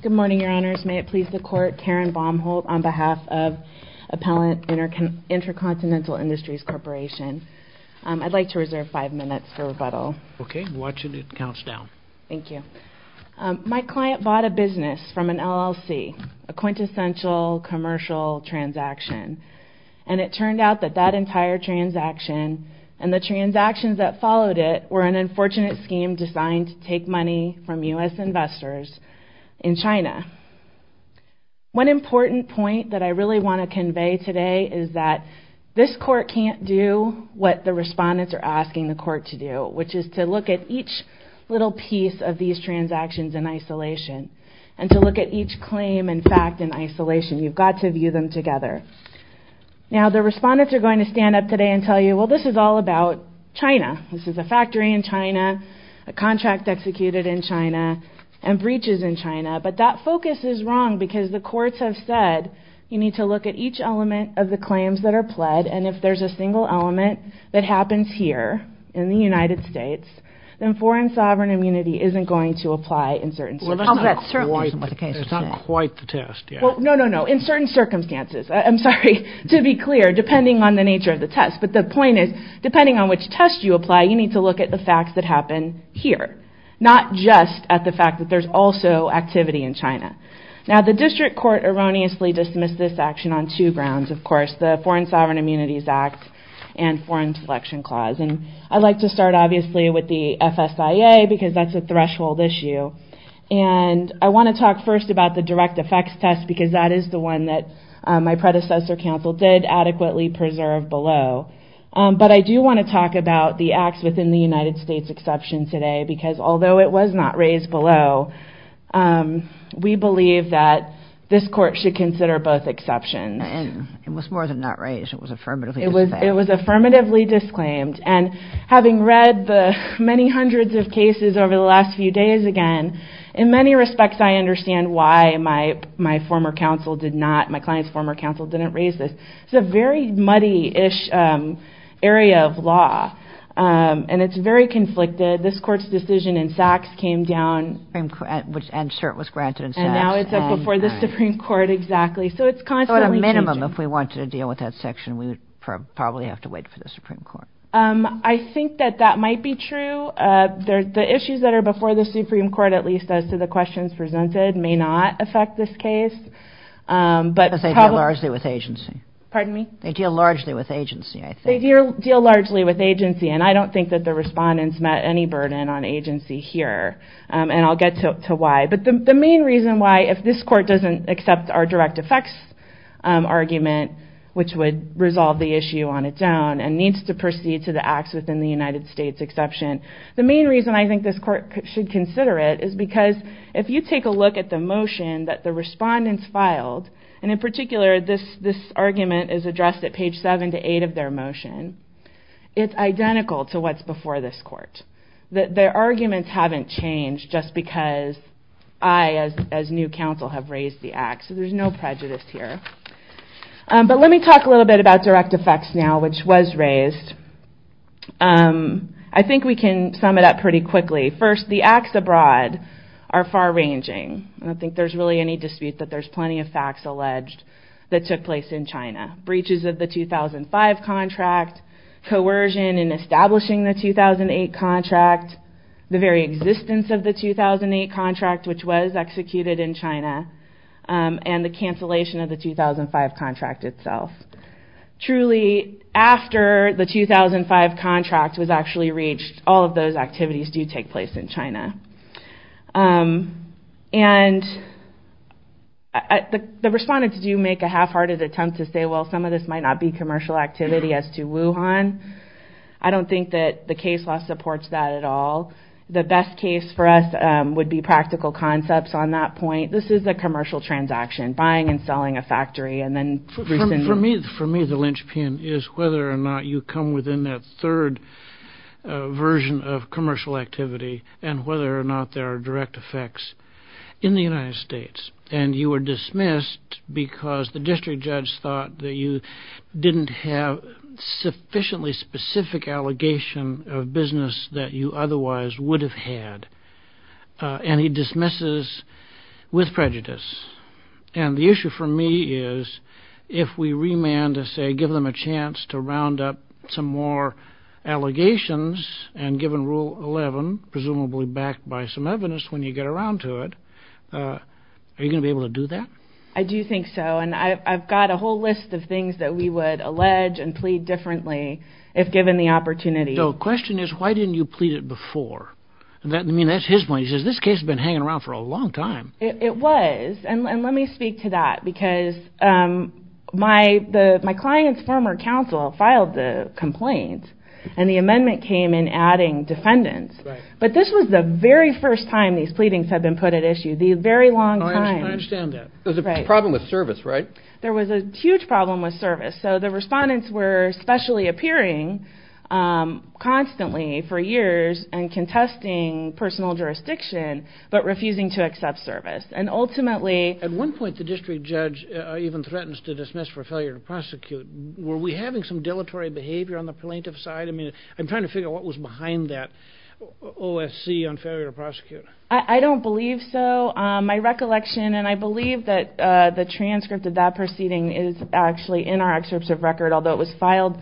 Good morning, your honors. May it please the court, Karen Baumholt on behalf of Appellant Intercontinental Industries Corporation. I'd like to reserve five minutes for rebuttal. Okay, watching it counts down. Thank you. My client bought a business from an LLC, a quintessential commercial transaction, and it turned out that that entire transaction and the transactions that followed it were an unfortunate scheme designed to take money from U.S. investors in China. One important point that I really want to convey today is that this court can't do what the respondents are asking the court to do, which is to look at each little piece of these transactions in isolation and to look at each claim in fact in isolation. You've got to view them together. Now the respondents are going to come up today and tell you, well, this is all about China. This is a factory in China, a contract executed in China, and breaches in China. But that focus is wrong because the courts have said you need to look at each element of the claims that are pled and if there's a single element that happens here in the United States, then foreign sovereign immunity isn't going to apply in certain circumstances. Well, that's not quite the case. That's not quite the test yet. Well, no, no, no. In certain circumstances. I'm sorry. To be clear, depending on the nature of the test. But the point is, depending on which test you apply, you need to look at the facts that happen here, not just at the fact that there's also activity in China. Now the district court erroneously dismissed this action on two grounds, of course, the Foreign Sovereign Immunities Act and Foreign Selection Clause. And I'd like to start obviously with the FSIA because that's a threshold issue. And I want to talk first about the direct effects test because that is the one that my predecessor counsel did adequately preserve below. But I do want to talk about the acts within the United States exception today because although it was not raised below, we believe that this court should consider both exceptions. And it was more than not raised. It was affirmatively disclaimed. It was affirmatively disclaimed. And having read the many hundreds of cases over the last few days again, in many respects, I understand why my former counsel did not, my client's former counsel didn't raise this. It's a very muddy-ish area of law. And it's very conflicted. This court's decision in Sachs came down. And cert was granted in Sachs. And now it's up before the Supreme Court, exactly. So it's constantly changing. So at a minimum, if we wanted to deal with that section, we would probably have to wait for the Supreme Court. I think that that might be true. The issues that are before the Supreme Court, at least as to the questions presented, may not affect this case. But they deal largely with agency. Pardon me? They deal largely with agency, I think. They deal largely with agency. And I don't think that the respondents met any burden on agency here. And I'll get to why. But the main reason why, if this court doesn't accept our direct effects argument, which would resolve the issue on its own and needs to proceed to the acts within the United States exception, the main reason I think this court should consider it is because if you take a look at the motion that the respondents filed, and in particular this argument is addressed at page seven to eight of their motion, it's identical to what's before this court. Their arguments haven't changed just because I, as new counsel, have raised the act. So there's no prejudice here. But let me talk a little bit about direct effects now, which was raised. I think we can sum it up pretty quickly. First, the acts abroad are far ranging. I don't think there's really any dispute that there's plenty of facts alleged that took place in China. Breaches of the 2005 contract, coercion in establishing the 2008 contract, the very existence of the 2008 contract, which was executed in China, and the cancellation of the 2005 contract itself. Truly, after the 2005 contract was actually reached, all of those activities do take place in China. The respondents do make a half-hearted attempt to say, well, some of this might not be commercial activity as to Wuhan. I don't think that the case law supports that at all. The best case for us would be practical concepts on that point. This is a commercial transaction, buying and selling a factory. For me, the linchpin is whether or not you come within that third version of commercial activity and whether or not there are direct effects in the United States. And you were dismissed because the district judge thought that you didn't have sufficiently specific allegation of business that you otherwise would have had. And he dismisses with prejudice. And the issue for me is, if we remand and say, give them a chance to round up some more allegations, and given Rule 11, presumably backed by some evidence when you get around to it, are you going to be able to do that? I do think so. And I've got a whole list of things that we would allege and plead differently if given the opportunity. So the question is, why didn't you plead it before? I mean, that's his point. He says, this case has been hanging around for a long time. It was. And let me speak to that. Because my client's former counsel filed the complaint. And the amendment came in adding defendants. But this was the very first time these pleadings had been put at issue. The very long time. I understand that. There was a problem with service, right? There was a huge problem with service. So the respondents were specially appearing constantly for years and contesting personal jurisdiction, but refusing to accept service. And ultimately... At one point, the district judge even threatens to dismiss for failure to prosecute. Were we having some dilatory behavior on the plaintiff's side? I mean, I'm trying to figure out what was behind that OSC on failure to prosecute. I don't believe so. My recollection, and I believe that the transcript of that proceeding is actually in our excerpts of record, although it was filed...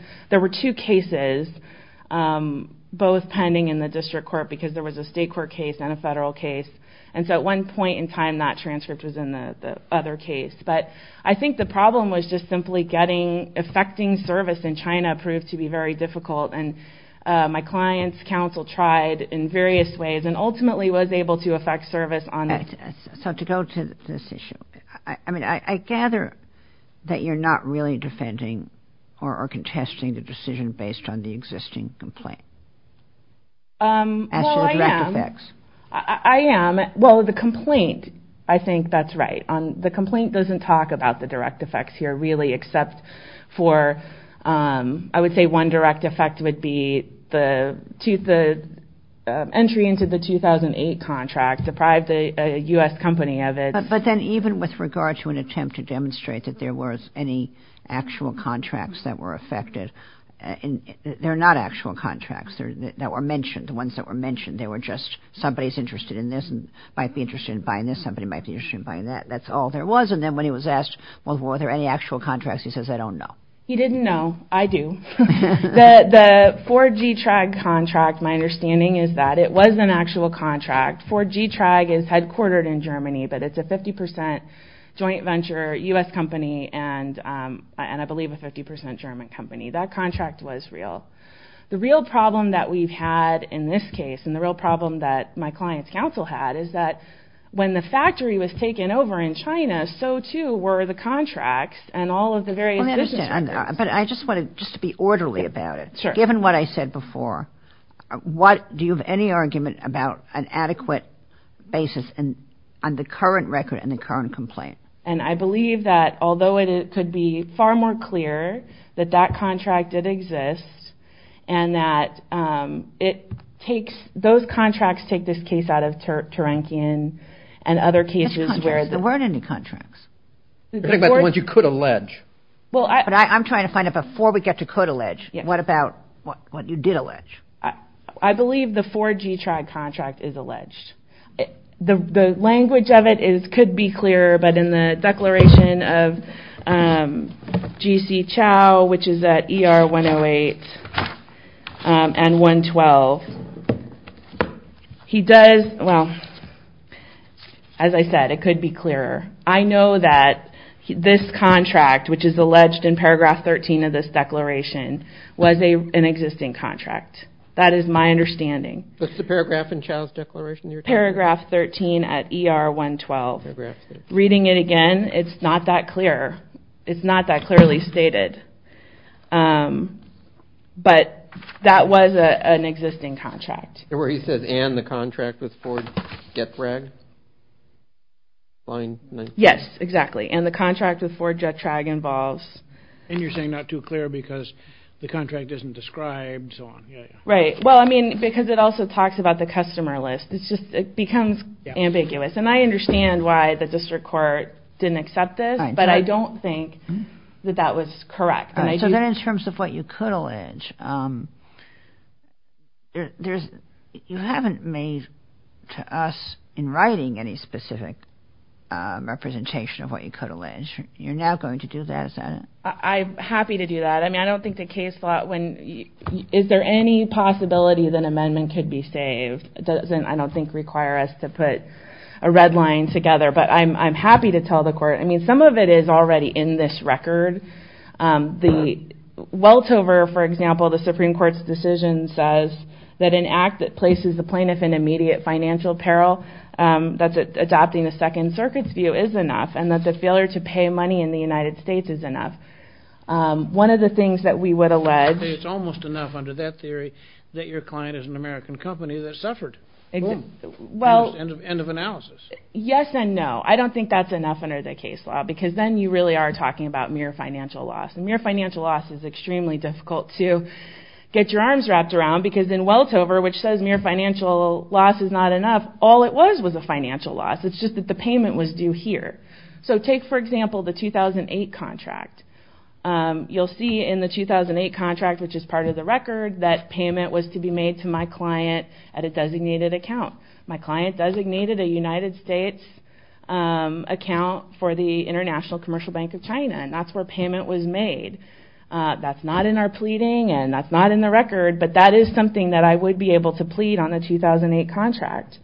because there was a state court case and a federal case. And so at one point in time, that transcript was in the other case. But I think the problem was just simply getting... effecting service in China proved to be very difficult. And my client's counsel tried in various ways and ultimately was able to effect service on... So to go to this issue, I mean, I gather that you're not really defending or contesting the decision based on the existing complaint. Well, I am. As to the direct effects. I am. Well, the complaint, I think that's right. The complaint doesn't talk about the direct effects here really, except for... I would say one direct effect would be the entry into the 2008 contract, deprived a U.S. company of its... But then even with regard to an attempt to demonstrate that there was any actual contracts that were affected, they're not actual contracts that were mentioned. The ones that were mentioned, they were just somebody's interested in this and might be interested in buying this, somebody might be interested in buying that. That's all there was. And then when he was asked, well, were there any actual contracts, he says, I don't know. He didn't know. I do. The 4G-TRAG contract, my understanding is that it was an actual contract. 4G-TRAG is headquartered in Germany, but it's a 50% joint venture U.S. company and I believe a 50% German company. That contract was real. The real problem that we've had in this case and the real problem that my client's counsel had is that when the factory was taken over in China, so too were the contracts and all of the various business records. But I just want to just be orderly about it. Sure. Given what I said before, do you have any argument about an adequate basis on the current record and the current complaint? And I believe that although it could be far more clear that that contract did exist and that those contracts take this case out of Turankian and other cases. There weren't any contracts. You're talking about the ones you could allege. I'm trying to find out before we get to could allege, what about what you did allege. I believe the 4G-TRAG contract is alleged. The language of it could be clearer, but in the declaration of G.C. Chow, which is at ER 108 and 112, he does, well, as I said, it could be clearer. I know that this contract, which is alleged in paragraph 13 of this declaration, was an existing contract. That is my understanding. What's the paragraph in Chow's declaration? Paragraph 13 at ER 112. Reading it again, it's not that clear. It's not that clearly stated. But that was an existing contract. Where he says, and the contract with 4G-TRAG? Yes, exactly, and the contract with 4G-TRAG involves. And you're saying not too clear because the contract isn't described and so on. Right, well, I mean, because it also talks about the customer list. It becomes ambiguous, and I understand why the district court didn't accept this, but I don't think that that was correct. So then in terms of what you could allege, you haven't made to us in writing any specific representation of what you could allege. You're now going to do that, is that it? I'm happy to do that. I mean, I don't think the case thought, is there any possibility that an amendment could be saved? It doesn't, I don't think, require us to put a red line together, but I'm happy to tell the court. I mean, some of it is already in this record. The Weltover, for example, the Supreme Court's decision says that an act that places the plaintiff in immediate financial peril, that's adopting the Second Circuit's view, is enough, and that the failure to pay money in the United States is enough. One of the things that we would allege... It's almost enough under that theory that your client is an American company that suffered. Well... End of analysis. Yes and no. I don't think that's enough under the case law, because then you really are talking about mere financial loss, and mere financial loss is extremely difficult to get your arms wrapped around, because in Weltover, which says mere financial loss is not enough, all it was was a financial loss. It's just that the payment was due here. So take, for example, the 2008 contract. You'll see in the 2008 contract, which is part of the record, that payment was to be made to my client at a designated account. My client designated a United States account for the International Commercial Bank of China, and that's where payment was made. That's not in our pleading, and that's not in the record, but that is something that I would be able to plead on a 2008 contract.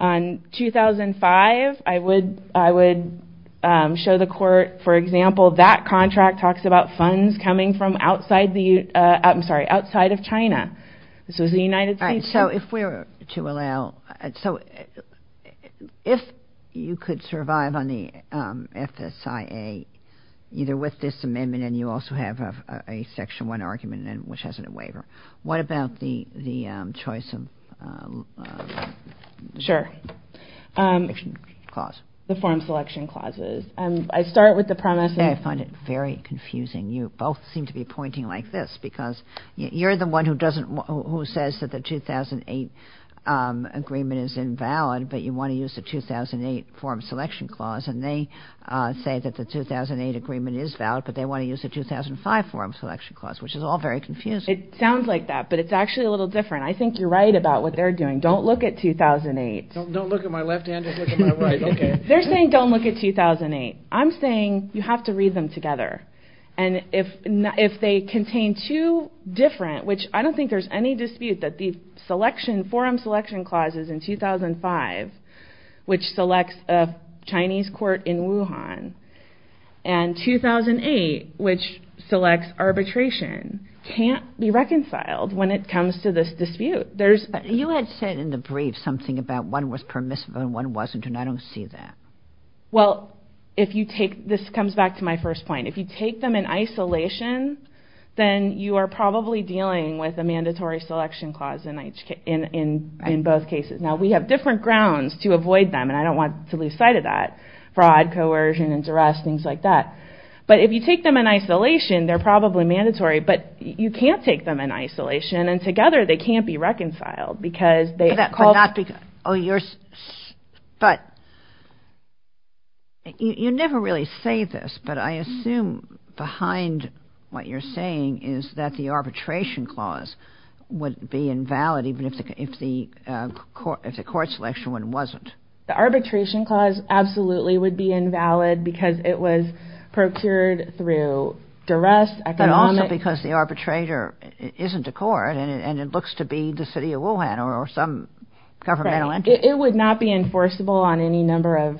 On 2005, I would show the court, for example, that contract talks about funds coming from outside of China. This was the United States... So if we were to allow... So if you could survive on the FSIA, either with this amendment, and you also have a Section 1 argument, which has a waiver, what about the choice of... Sure. The form selection clauses. I start with the premise... I find it very confusing. You both seem to be pointing like this, because you're the one who says that the 2008 agreement is invalid, but you want to use the 2008 form selection clause, and they say that the 2008 agreement is valid, but they want to use the 2005 form selection clause, which is all very confusing. It sounds like that, but it's actually a little different. I think you're right about what they're doing. Don't look at 2008. Don't look at my left hand, just look at my right. They're saying don't look at 2008. I'm saying you have to read them together, and if they contain two different... I don't think there's any dispute that the forum selection clauses in 2005, which selects a Chinese court in Wuhan, and 2008, which selects arbitration, can't be reconciled when it comes to this dispute. You had said in the brief something about one was permissive and one wasn't, and I don't see that. Well, this comes back to my first point. If you take them in isolation, then you are probably dealing with a mandatory selection clause in both cases. Now, we have different grounds to avoid them, and I don't want to lose sight of that. Fraud, coercion, and duress, things like that. But if you take them in isolation, they're probably mandatory, but you can't take them in isolation, and together they can't be reconciled because they... But not because... But you never really say this, but I assume behind what you're saying is that the arbitration clause would be invalid even if the court selection one wasn't. The arbitration clause absolutely would be invalid because it was procured through duress, economic... But also because the arbitrator isn't a court and it looks to be the city of Wuhan or some governmental entity. It would not be enforceable on any number of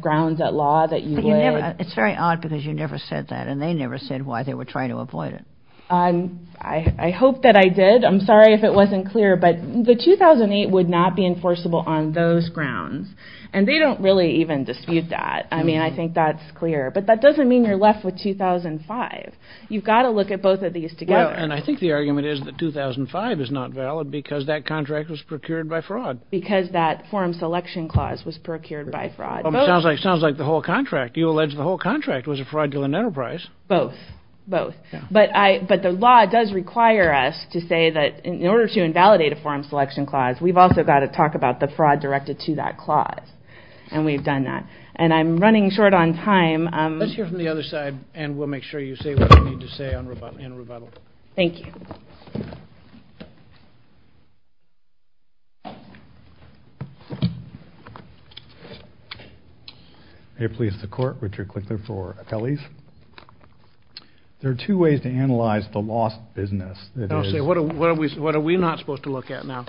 grounds at law that you would... It's very odd because you never said that, and they never said why they were trying to avoid it. I hope that I did. I'm sorry if it wasn't clear, but the 2008 would not be enforceable on those grounds, and they don't really even dispute that. I mean, I think that's clear. But that doesn't mean you're left with 2005. You've got to look at both of these together. And I think the argument is that 2005 is not valid because that contract was procured by fraud. Because that forum selection clause was procured by fraud. Sounds like the whole contract. You allege the whole contract was a fraudulent enterprise. Both. Both. But the law does require us to say that in order to invalidate a forum selection clause, we've also got to talk about the fraud directed to that clause, and we've done that. And I'm running short on time. Let's hear from the other side, and we'll make sure you say what you need to say in rebuttal. Thank you. May it please the Court. Richard Clickler for Appellees. There are two ways to analyze the lost business. What are we not supposed to look at now?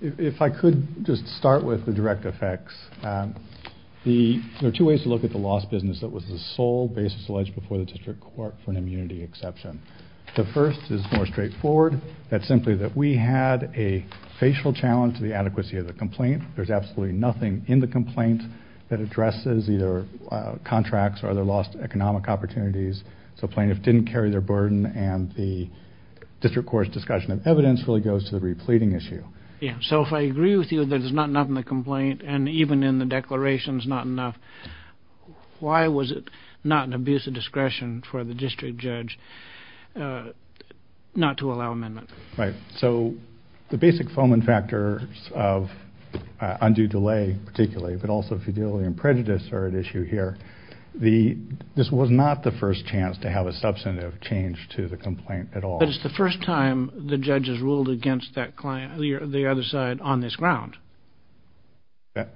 If I could just start with the direct effects. There are two ways to look at the lost business that was the sole basis alleged before the district court for an immunity exception. The first is more straightforward. That's simply that we had a facial challenge to the adequacy of the complaint. There's absolutely nothing in the complaint that addresses either contracts or other lost economic opportunities. So plaintiffs didn't carry their burden, and the district court's discussion of evidence really goes to the repleting issue. So if I agree with you that there's not enough in the complaint, and even in the declarations not enough, why was it not an abuse of discretion for the district judge not to allow amendment? Right. So the basic foment factors of undue delay, particularly, but also fidelity and prejudice are at issue here. This was not the first chance to have a substantive change to the complaint at all. But it's the first time the judge has ruled against the other side on this ground. That's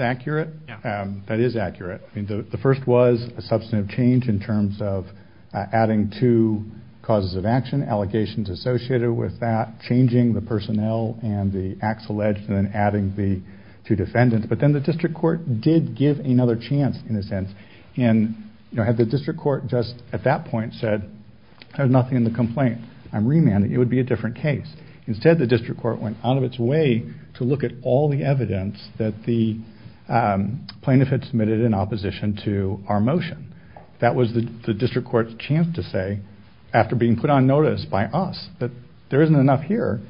accurate. That is accurate. The first was a substantive change in terms of adding two causes of action, allegations associated with that, changing the personnel and the acts alleged, and then adding the two defendants. But then the district court did give another chance in a sense, and had the district court just at that point said, there's nothing in the complaint. I'm remanding. It would be a different case. Instead, the district court went out of its way to look at all the evidence that the plaintiff had submitted in opposition to our motion. That was the district court's chance to say, after being put on notice by us, that there isn't enough here.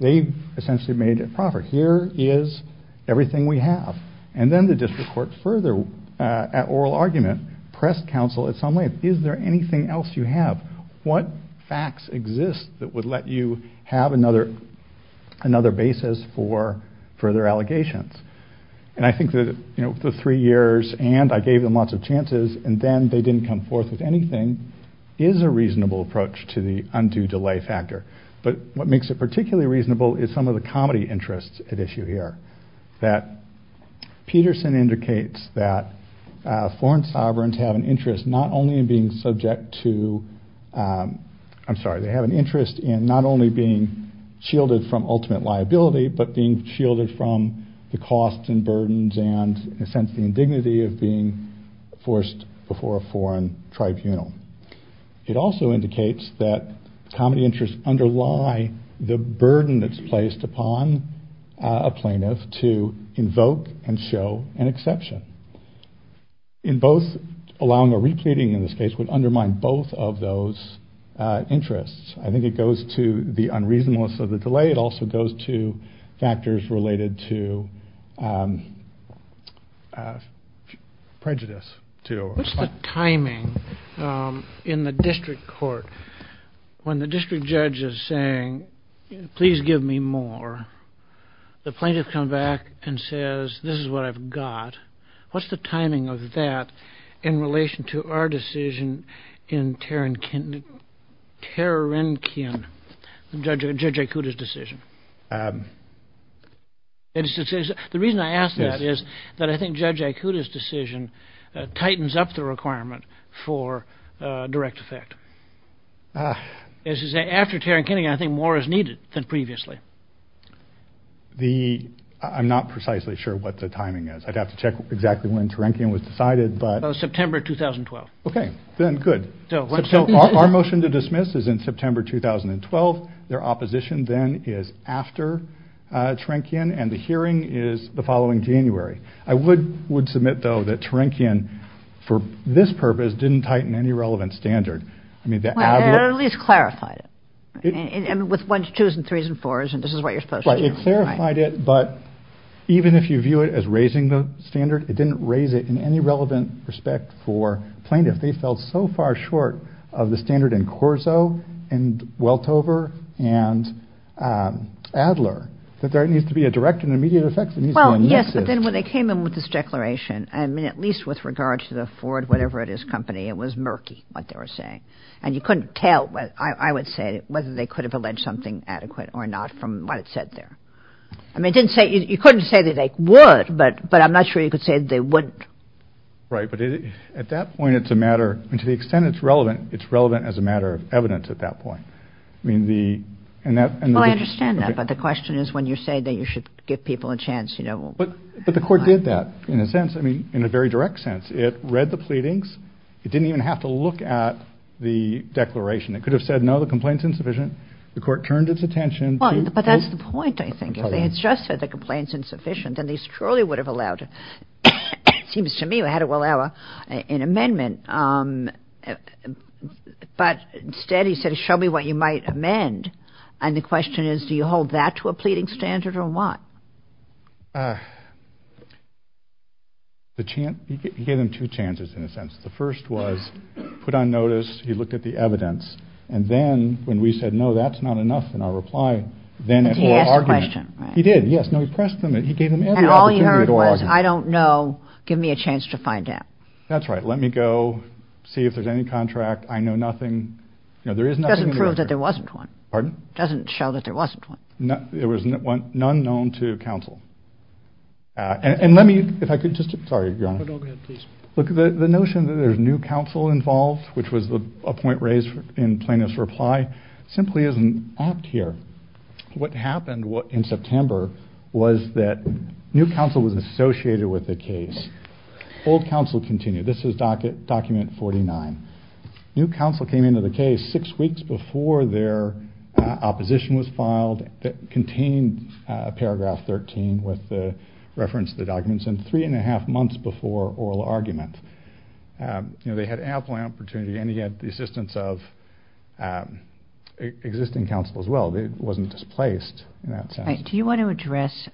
They essentially made it proper. Here is everything we have. And then the district court further, at oral argument, pressed counsel in some way. Is there anything else you have? What facts exist that would let you have another basis for further allegations? And I think that the three years, and I gave them lots of chances, and then they didn't come forth with anything, is a reasonable approach to the undue delay factor. But what makes it particularly reasonable is some of the comedy interests at issue here, that Peterson indicates that foreign sovereigns have an interest not only in being subject to... I'm sorry, they have an interest in not only being shielded from ultimate liability, but being shielded from the costs and burdens and, in a sense, the indignity of being forced before a foreign tribunal. It also indicates that comedy interests underlie the burden that's placed upon a plaintiff to invoke and show an exception. In both, allowing a repleting in this case would undermine both of those interests. I think it goes to the unreasonableness of the delay. It also goes to factors related to prejudice. What's the timing in the district court when the district judge is saying, please give me more, the plaintiff comes back and says, this is what I've got, what's the timing of that in relation to our decision in Terrenkian, Judge Aikuda's decision? The reason I ask that is that I think Judge Aikuda's decision tightens up the requirement for direct effect. As you say, after Terrenkian, I think more is needed than previously. I'm not precisely sure what the timing is. I'd have to check exactly when Terrenkian was decided. September 2012. Good. Our motion to dismiss is in September 2012. Their opposition then is after Terrenkian and the hearing is the following January. I would submit, though, that Terrenkian, for this purpose, didn't tighten any relevant standard. It at least clarified it. With ones, twos, and threes, and fours, and this is what you're supposed to do. It clarified it, but even if you view it as raising the standard, it didn't raise it in any relevant respect for plaintiffs. They fell so far short of the standard in Corso, and Weltover, and Adler, that there needs to be a direct and immediate effect. Yes, but then when they came in with this declaration, at least with regard to the Ford whatever it is company, it was murky what they were saying, and you couldn't tell, I would say, whether they could have alleged something adequate or not from what it said there. I mean, you couldn't say that they would, but I'm not sure you could say that they wouldn't. Right, but at that point, it's a matter, and to the extent it's relevant, it's relevant as a matter of evidence at that point. I mean, the... Well, I understand that, but the question is when you say that you should give people a chance, you know... But the court did that in a sense, I mean, in a very direct sense. It read the pleadings. It didn't even have to look at the declaration. It could have said, no, the complaint's insufficient. The court turned its attention to... Well, but that's the point, I think. If they had just said the complaint's insufficient, then they truly would have allowed it. It seems to me they had to allow an amendment, but instead he said, show me what you might amend, and the question is, do you hold that to a pleading standard or what? The chance... He gave them two chances in a sense. The first was put on notice. He looked at the evidence, and then when we said, no, that's not enough, in our reply, then at oral argument... But he asked a question, right? He did, yes. No, he pressed them. He gave them every opportunity at oral argument. And all he heard was, I don't know. Give me a chance to find out. That's right. Let me go see if there's any contract. I know nothing. You know, there is nothing... It doesn't prove that there wasn't one. Pardon? It doesn't show that there wasn't one. There was none known to counsel. And let me... If I could just... Sorry, Your Honor. No, go ahead, please. Look, the notion that there's new counsel involved, which was a point raised in Plaintiff's reply, simply isn't apt here. What happened in September was that new counsel was associated with the case. Old counsel continued. This is document 49. New counsel came into the case six weeks before their opposition was filed. It contained paragraph 13 with the reference to the documents and 3 1⁄2 months before oral argument. You know, they had ample opportunity, and he had the assistance of existing counsel as well. He wasn't displaced in that sense. Do you want to address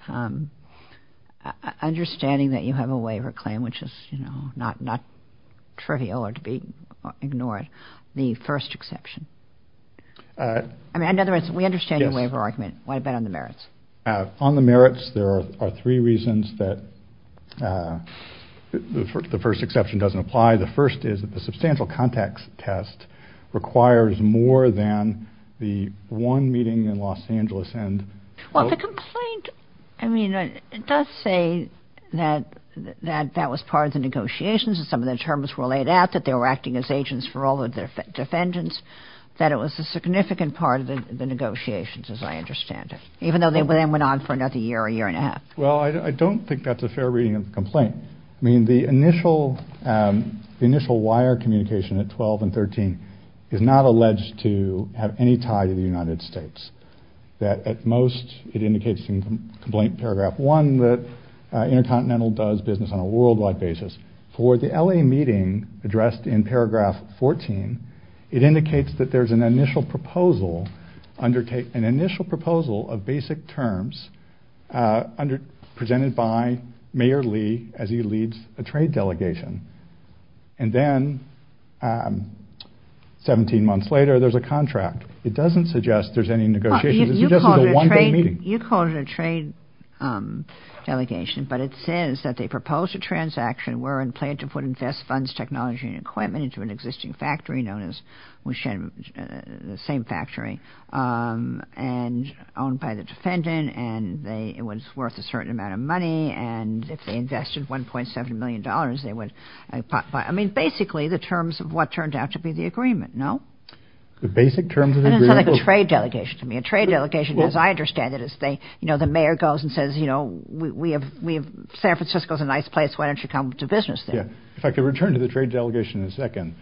understanding that you have a waiver claim, which is, you know, not trivial or to be ignored, the first exception? In other words, we understand your waiver argument. What about on the merits? On the merits, there are three reasons that the first exception doesn't apply. The first is that the substantial context test requires more than the one meeting in Los Angeles and... Well, the complaint, I mean, it does say that that was part of the negotiations and some of the terms were laid out, that they were acting as agents for all of the defendants, that it was a significant part of the negotiations, as I understand it, even though they then went on for another year, a year and a half. Well, I don't think that's a fair reading of the complaint. I mean, the initial wire communication at 12 and 13 is not alleged to have any tie to the United States. At most, it indicates in complaint paragraph 1 that Intercontinental does business on a worldwide basis. For the L.A. meeting addressed in paragraph 14, it indicates that there's an initial proposal of basic terms presented by Mayor Lee as he leads a trade delegation. And then 17 months later, there's a contract. It doesn't suggest there's any negotiations. It's just a one-day meeting. You called it a trade delegation, but it says that they proposed a transaction where and planned to put invest funds, technology, and equipment into an existing factory known as the same factory and owned by the defendant and it was worth a certain amount of money and if they invested $1.7 million, they would buy. I mean, basically, the terms of what turned out to be the agreement, no? The basic terms of the agreement? It doesn't sound like a trade delegation to me. A trade delegation, as I understand it, the mayor goes and says, San Francisco's a nice place. Why don't you come to business there? If I could return to the trade delegation in a second.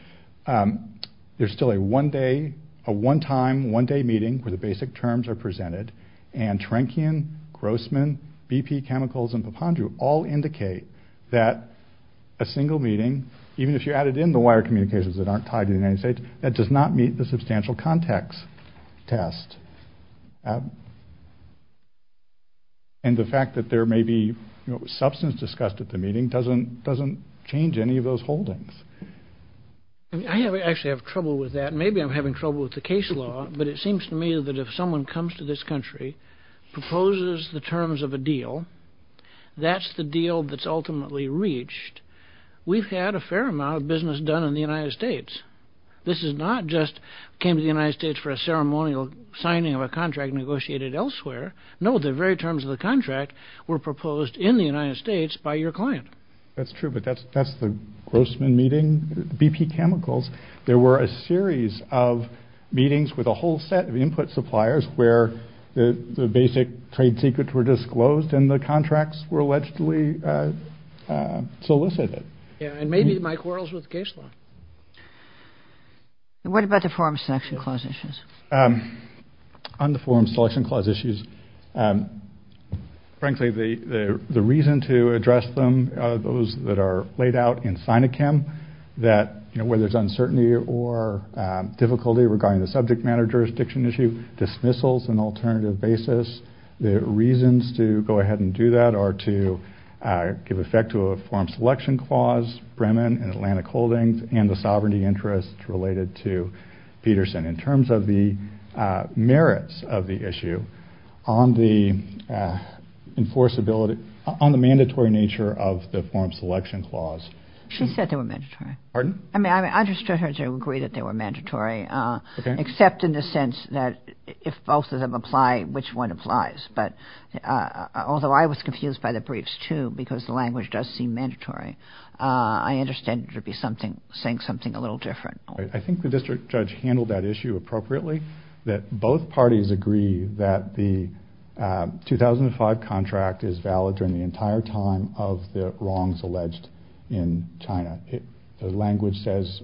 There's still a one-time, one-day meeting where the basic terms are presented and Trankian, Grossman, BP Chemicals, and Papandreou all indicate that a single meeting, even if you added in the wire communications that aren't tied to the United States, that does not meet the substantial context test. And the fact that there may be substance discussed at the meeting doesn't change any of those holdings. I actually have trouble with that. Maybe I'm having trouble with the case law, but it seems to me that if someone comes to this country, proposes the terms of a deal, that's the deal that's ultimately reached, we've had a fair amount of business done in the United States. This is not just came to the United States for a ceremonial signing of a contract negotiated elsewhere. No, the very terms of the contract were proposed in the United States by your client. That's true, but that's the Grossman meeting. BP Chemicals, there were a series of meetings with a whole set of input suppliers where the basic trade secrets were disclosed and the contracts were allegedly solicited. Yeah, and maybe my quarrels with the case law. What about the Forum Selection Clause issues? On the Forum Selection Clause issues, frankly, the reason to address them, those that are laid out in SINA-CHEM, where there's uncertainty or difficulty regarding the subject matter jurisdiction issue, dismissals, an alternative basis, the reasons to go ahead and do that are to give effect to a Forum Selection Clause, Bremen and Atlantic Holdings, and the sovereignty interests related to Peterson. In terms of the merits of the issue, on the mandatory nature of the Forum Selection Clause... She said they were mandatory. Pardon? I mean, I understood her to agree that they were mandatory, except in the sense that if both of them apply, which one applies? Although I was confused by the briefs, too, because the language does seem mandatory. I understand it to be saying something a little different. I think the district judge handled that issue appropriately, that both parties agree that the 2005 contract is valid during the entire time of the wrongs alleged in China. The language says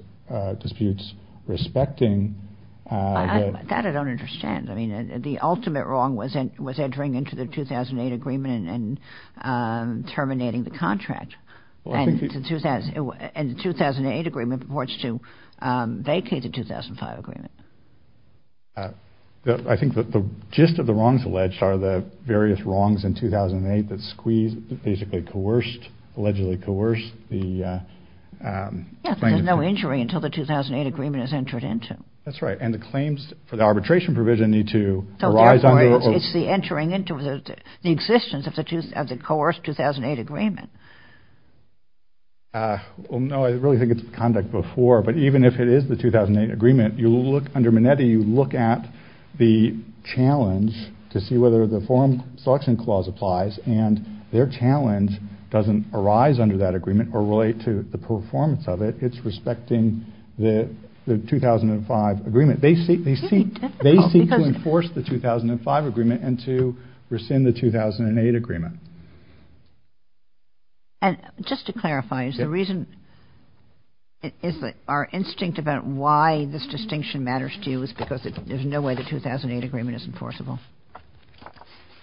disputes respecting... That I don't understand. I mean, the ultimate wrong was entering into the 2008 agreement and terminating the contract, and the 2008 agreement purports to vacate the 2005 agreement. I think the gist of the wrongs alleged are the various wrongs in 2008 that squeezed, basically coerced, allegedly coerced the... Yes, there's no injury until the 2008 agreement is entered into. That's right, and the claims for the arbitration provision need to arise under... It's the entering into the existence of the coerced 2008 agreement. No, I really think it's conduct before, but even if it is the 2008 agreement, under Minetti you look at the challenge to see whether the forum selection clause applies, and their challenge doesn't arise under that agreement or relate to the performance of it. It's respecting the 2005 agreement. They seek to enforce the 2005 agreement and to rescind the 2008 agreement. And just to clarify, is the reason... Is our instinct about why this distinction matters to you is because there's no way the 2008 agreement is enforceable?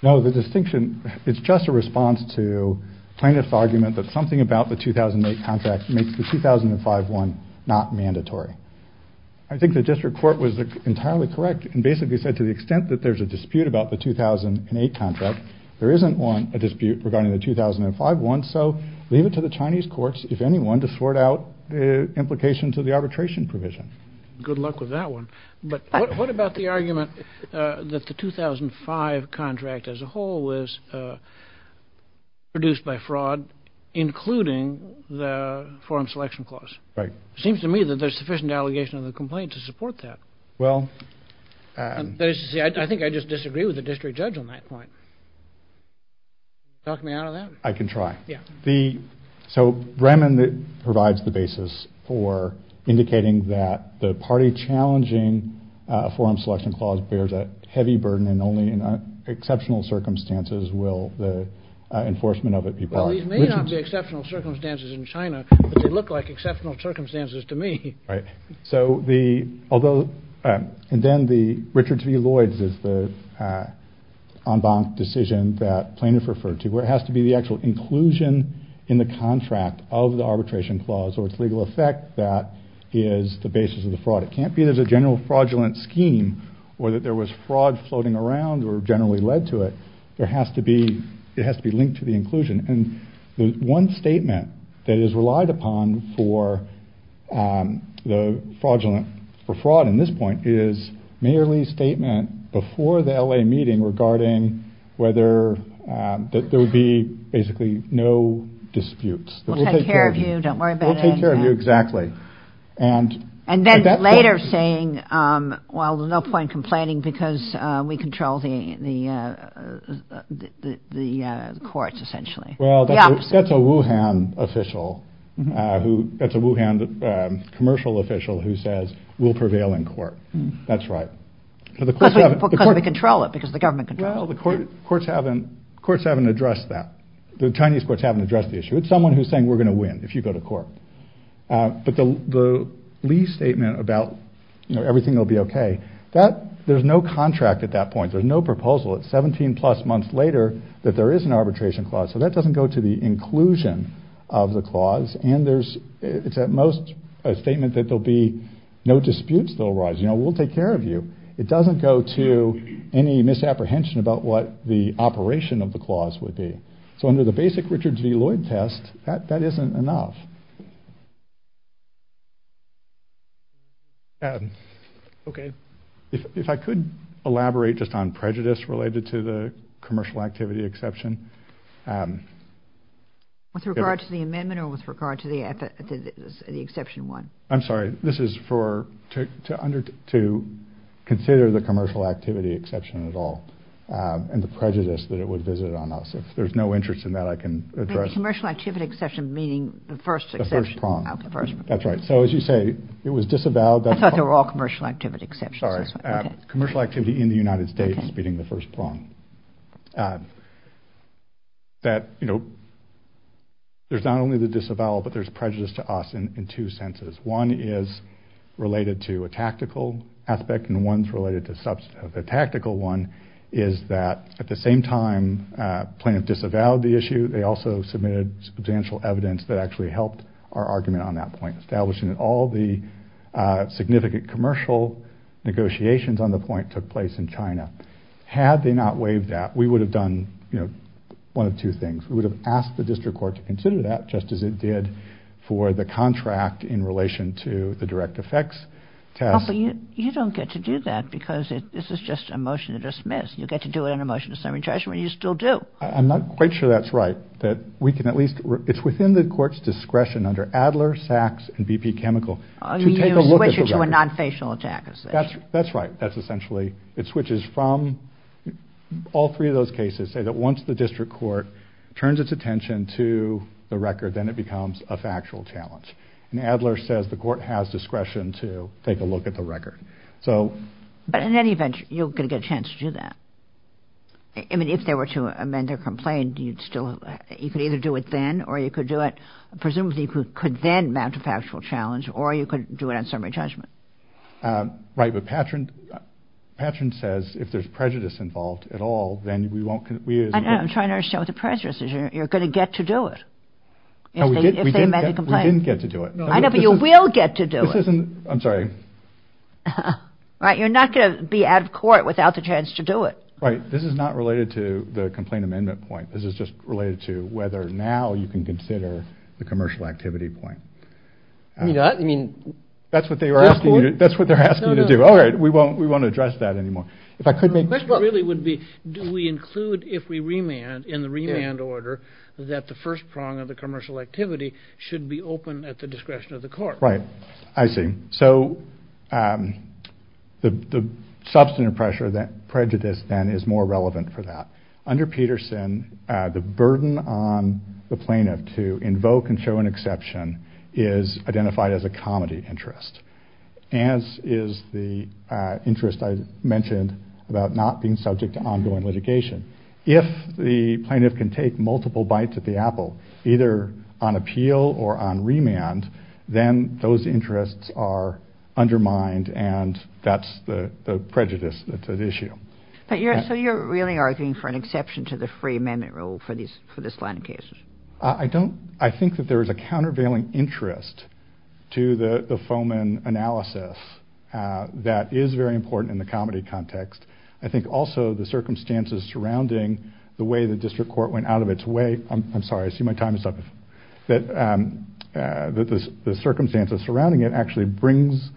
No, the distinction... It's just a response to plaintiff's argument that something about the 2008 contract makes the 2005 one not mandatory. I think the district court was entirely correct and basically said to the extent that there's a dispute about the 2008 contract, there isn't one, a dispute, regarding the 2005 one, so leave it to the Chinese courts, if any one, to sort out the implications of the arbitration provision. Good luck with that one. But what about the argument that the 2005 contract as a whole was produced by fraud, including the forum selection clause? It seems to me that there's sufficient allegation of the complaint to support that. That is to say, I think I just disagree with the district judge on that point. Talk me out of that? I can try. So Bremen provides the basis for indicating that the party challenging a forum selection clause bears a heavy burden and only in exceptional circumstances will the enforcement of it be brought. Well, these may not be exceptional circumstances in China, but they look like exceptional circumstances to me. Right. And then Richard T. Lloyd's is the en banc decision that plaintiffs referred to, where it has to be the actual inclusion in the contract of the arbitration clause or its legal effect that is the basis of the fraud. It can't be there's a general fraudulent scheme or that there was fraud floating around or generally led to it. It has to be linked to the inclusion. And the one statement that is relied upon for fraud at this point is Mayor Lee's statement before the L.A. meeting regarding whether there would be basically no disputes. We'll take care of you. Don't worry about it. We'll take care of you. And then later saying, well, there's no point in complaining because we control the courts essentially. Well, that's a Wuhan official who that's a Wuhan commercial official who says we'll prevail in court. That's right. Because we control it because the government controls it. Well, the courts haven't addressed that. The Chinese courts haven't addressed the issue. It's someone who's saying we're going to win if you go to court. But the Lee statement about everything will be okay. There's no contract at that point. There's no proposal. It's 17 plus months later that there is an arbitration clause. So that doesn't go to the inclusion of the clause. And it's at most a statement that there'll be no disputes that will arise. You know, we'll take care of you. It doesn't go to any misapprehension about what the operation of the clause would be. So under the basic Richards v. Lloyd test, that isn't enough. Okay. Okay. If I could elaborate just on prejudice related to the commercial activity exception. With regard to the amendment or with regard to the exception one? I'm sorry. This is to consider the commercial activity exception at all and the prejudice that it would visit on us. If there's no interest in that, I can address it. The commercial activity exception meaning the first exception. The first prong. That's right. So as you say, it was disavowed. I thought they were all commercial activity exceptions. Sorry. Commercial activity in the United States meaning the first prong. That, you know, there's not only the disavowal, but there's prejudice to us in two senses. One is related to a tactical aspect and one's related to substantive. The tactical one is that at the same time plaintiff disavowed the issue. They also submitted substantial evidence that actually helped our argument on that point. Establishing that all the significant commercial negotiations on the point took place in China. Had they not waived that, we would have done, you know, one of two things. We would have asked the district court to consider that just as it did for the contract in relation to the direct effects test. But you don't get to do that because this is just a motion to dismiss. You get to do it in a motion to summary judgment. You still do. I'm not quite sure that's right. That we can at least... It's within the court's discretion under Adler, Sachs, and BP chemical to take a look at the record. You switch it to a non-facial attack. That's right. That's essentially... It switches from... All three of those cases say that once the district court turns its attention to the record, then it becomes a factual challenge. And Adler says the court has discretion to take a look at the record. So... But in any event, you're going to get a chance to do that. I mean, if there were to amend their complaint, you'd still... You could either do it then, or you could do it... Presumably, you could then mount a factual challenge, or you could do it on summary judgment. Right. But Patron says if there's prejudice involved at all, then we won't... I know. I'm trying to understand what the prejudice is. You're going to get to do it if they amend the complaint. We didn't get to do it. I know, but you will get to do it. I'm sorry. Right. You're not going to be out of court without the chance to do it. Right. This is not related to the complaint amendment point. This is just related to whether now you can consider the commercial activity point. You're not? That's what they're asking you to do. No, no. All right. We won't address that anymore. If I could make... My question really would be, do we include, if we remand, in the remand order, that the first prong of the commercial activity should be open at the discretion of the court? Right. I see. So the substantive pressure, that prejudice then, is more relevant for that. Under Peterson, the burden on the plaintiff to invoke and show an exception is identified as a comedy interest, as is the interest I mentioned about not being subject to ongoing litigation. If the plaintiff can take multiple bites at the apple, either on appeal or on remand, then those interests are undermined and that's the prejudice to the issue. So you're really arguing for an exception to the free amendment rule for this line of cases? I don't... I think that there is a countervailing interest to the Fomen analysis that is very important in the comedy context. I think also the circumstances surrounding the way the district court went out of its way... I'm sorry. I see my time is up. ...that the circumstances surrounding it actually brings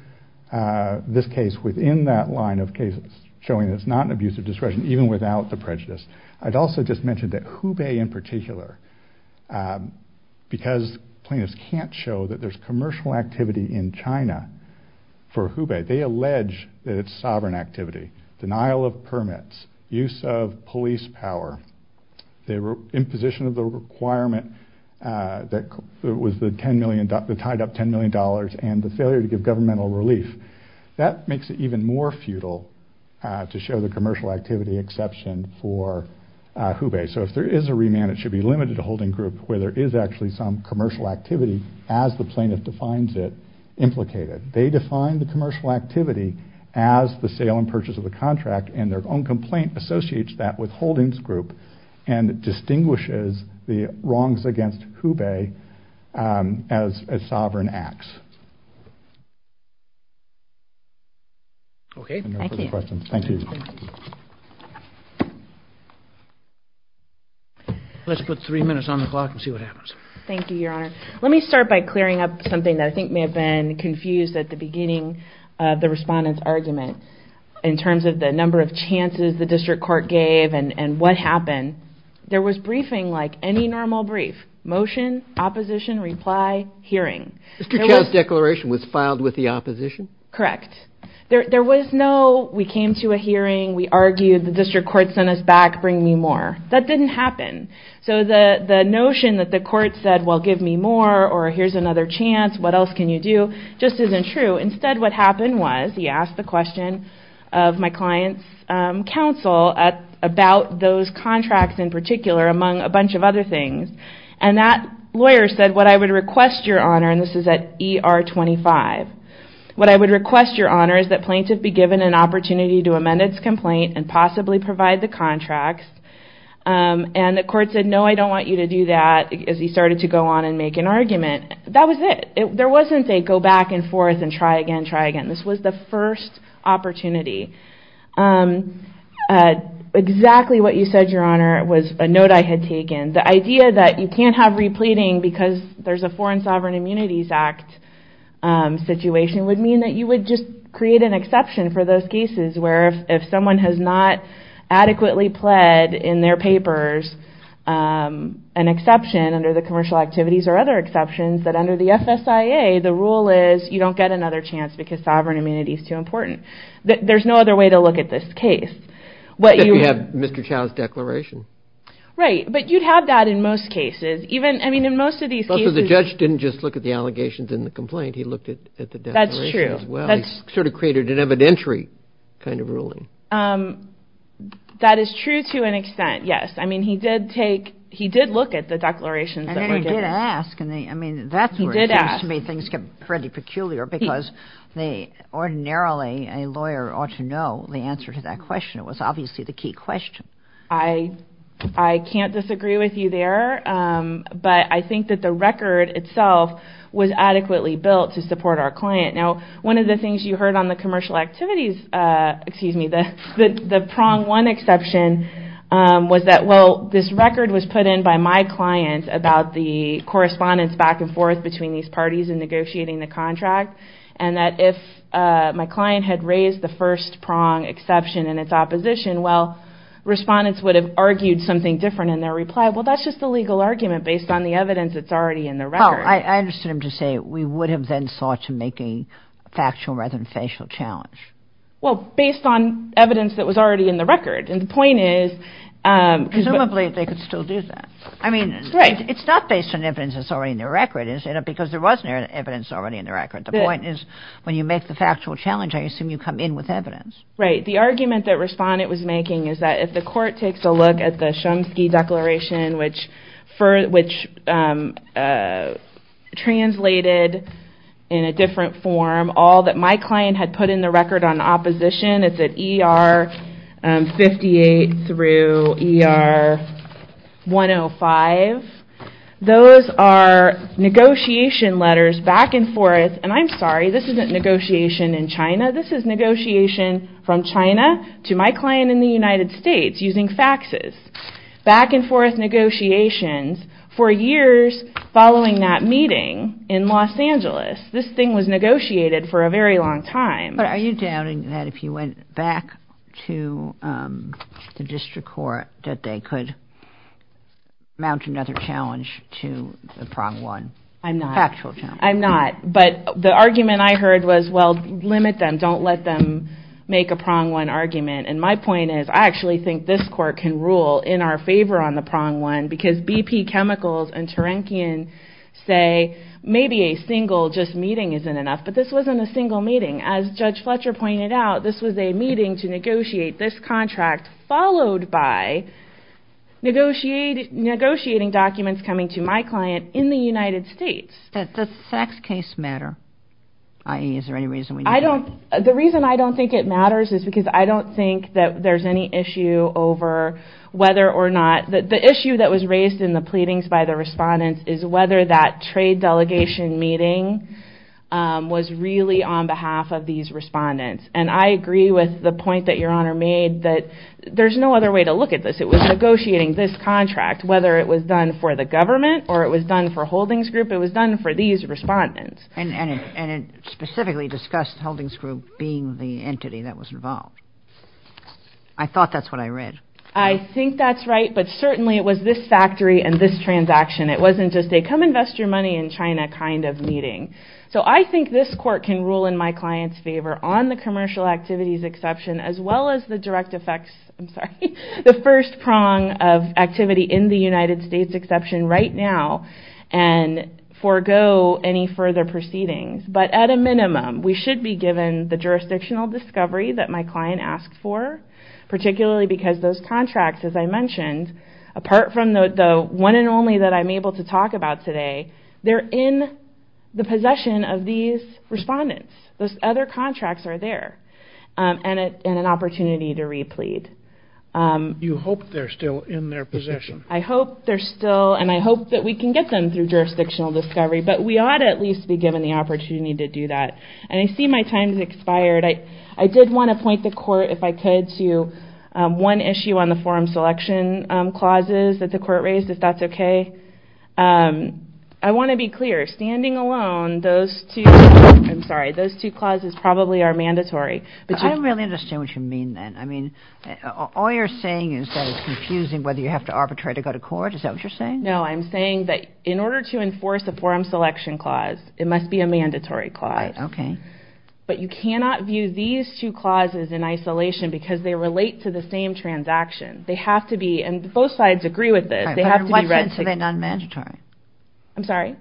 this case within that line of cases, showing that it's not an abusive discretion, even without the prejudice. I'd also just mention that Hubei in particular, because plaintiffs can't show that there's commercial activity in China for Hubei, they allege that it's sovereign activity. Denial of permits, use of police power, the imposition of the requirement that was the tied up $10 million and the failure to give governmental relief, that makes it even more futile to show the commercial activity exception for Hubei. So if there is a remand, it should be limited to holding group where there is actually some commercial activity as the plaintiff defines it, implicated. They define the commercial activity as the sale and purchase of the contract and their own complaint associates that with holdings group and distinguishes the wrongs against Hubei as sovereign acts. Let's put three minutes on the clock and see what happens. Thank you, Your Honor. Let me start by clearing up something that I think may have been confused at the beginning of the respondent's argument in terms of the number of chances the district court gave and what happened. There was briefing like any normal brief. Motion, opposition, reply, hearing. Mr. Chao's declaration was filed with the opposition? Correct. There was no, we came to a hearing, we argued, the district court sent us back, bring me more. That didn't happen. So the notion that the court said, well, give me more or here's another chance, what else can you do, just isn't true. Instead, what happened was he asked the question of my client's counsel about those contracts in particular among a bunch of other things. And that lawyer said, what I would request, Your Honor, and this is at ER 25, what I would request, Your Honor, is that plaintiff be given an opportunity to amend its complaint and possibly provide the contracts. And the court said, no, I don't want you to do that as he started to go on and make an argument. That was it. There wasn't a go back and forth and try again, try again. This was the first opportunity. Exactly what you said, Your Honor, was a note I had taken. The idea that you can't have repleting because there's a Foreign Sovereign Immunities Act situation would mean that you would just create an exception for those cases where if someone has not adequately pled in their papers, an exception under the commercial activities or other exceptions, that under the FSIA, the rule is you don't get another chance because sovereign immunity is too important. There's no other way to look at this case. Except if you have Mr. Chow's declaration. Right, but you'd have that in most cases. Even, I mean, in most of these cases... But the judge didn't just look at the allegations in the complaint. He looked at the declaration as well. That's true. He sort of created an evidentiary kind of ruling. That is true to an extent, yes. I mean, he did take, he did look at the declarations that were given. And he did ask. I mean, that's where it seems to me things get pretty peculiar because they ordinarily, a lawyer ought to know the answer to that question. It was obviously the key question. I can't disagree with you there. But I think that the record itself was adequately built to support our client. Now, one of the things you heard on the commercial activities, excuse me, the prong one exception this record was put in by my client about the correspondence back and forth between these parties in negotiating the contract. And that if my client had raised the first prong exception in its opposition, well, respondents would have argued something different in their reply. Well, that's just a legal argument based on the evidence that's already in the record. I understood him to say we would have then sought to make a factual rather than facial challenge. Well, based on evidence that was already in the record. And the point is... Presumably, they could still do that. I mean, it's not based on evidence that's already in the record. Because there was no evidence already in the record. The point is, when you make the factual challenge, I assume you come in with evidence. Right. The argument that respondent was making is that if the court takes a look at the Chomsky Declaration, which translated in a different form all that my client had put in the record on opposition, it's at ER 58 through ER 105. Those are negotiation letters back and forth. And I'm sorry, this isn't negotiation in China. This is negotiation from China to my client in the United States using faxes. Back and forth negotiations for years following that meeting in Los Angeles. This thing was negotiated for a very long time. Are you doubting that if you went back to the district court that they could mount another challenge to the prong one? I'm not. Factual challenge. I'm not. But the argument I heard was, well, limit them. Don't let them make a prong one argument. And my point is, I actually think this court can rule in our favor on the prong one. Because BP Chemicals and Turankian say, maybe a single just meeting isn't enough. But this wasn't a single meeting. As Judge Fletcher pointed out, this was a meeting to negotiate this contract followed by negotiating documents coming to my client in the United States. Does the fax case matter? I.e., is there any reason we need it? The reason I don't think it matters is because I don't think that there's any issue over whether or not, the issue that was raised in the pleadings by the respondents is whether that trade delegation meeting was really on behalf of these respondents. And I agree with the point that Your Honor made that there's no other way to look at this. It was negotiating this contract, whether it was done for the government or it was done for Holdings Group, it was done for these respondents. And it specifically discussed Holdings Group being the entity that was involved. I thought that's what I read. I think that's right, but certainly it was this factory and this transaction. It wasn't just a come invest your money in China kind of meeting. So I think this court can rule in my client's favor on the commercial activities exception as well as the direct effects, I'm sorry, the first prong of activity in the United States exception right now and forego any further proceedings. But at a minimum, we should be given the jurisdictional discovery that my client asked for, particularly because those contracts, as I mentioned, apart from the one and only that I'm able to talk about today, they're in the possession of these respondents. Those other contracts are there. And an opportunity to replead. You hope they're still in their possession. I hope they're still, and I hope that we can get them through jurisdictional discovery, but we ought at least be given the opportunity to do that. And I see my time has expired. I did want to point the court, if I could, to one issue on the forum selection clauses that the court raised, if that's okay. I want to be clear. Standing alone, those two clauses probably are mandatory. But I don't really understand what you mean then. I mean, all you're saying is that it's confusing whether you have to arbitrate or go to court. Is that what you're saying? No, I'm saying that in order to enforce a forum selection clause, it must be a mandatory clause. Okay. But you cannot view these two clauses in isolation because they relate to the same transaction. They have to be, and both sides agree with this, they have to be read together. But why then are they non-mandatory? I'm sorry?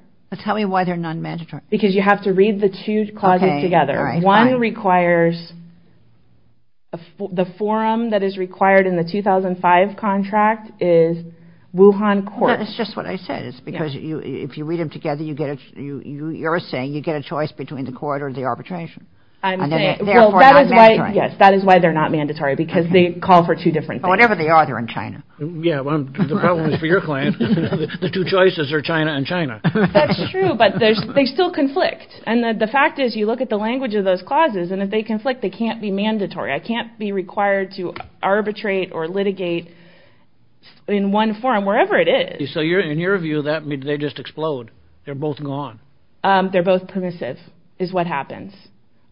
Tell me why they're non-mandatory. Because you have to read the two clauses together. One requires, the forum that is required in the 2005 contract is Wuhan Court. That's just what I said. It's because if you read them together, you're saying you get a choice between the court or the arbitration. I'm saying, well, that is why they're not mandatory because they call for two different things. Whatever they are, they're in China. Yeah, well, the problem is for your client, the two choices are China and China. That's true, but they still conflict. And the fact is, you look at the language of those clauses, and if they conflict, they can't be mandatory. I can't be required to arbitrate or litigate in one forum, wherever it is. So in your view, that means they just explode. They're both gone. They're both permissive, is what happens,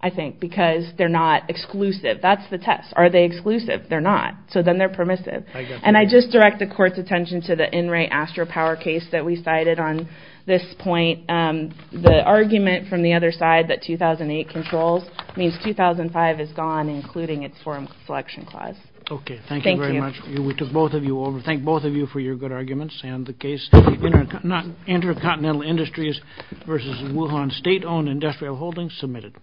I think, because they're not exclusive. That's the test. Are they exclusive? They're not. So then they're permissive. And I just direct the court's attention to the In Re Astro Power case that we cited on this point. The argument from the other side that 2008 controls means 2005 is gone, including its forum selection clause. Okay, thank you very much. Thank you. We took both of you over. Thank both of you for your good arguments. And the case, Intercontinental Industries v. Wuhan State-Owned Industrial Holdings, submitted.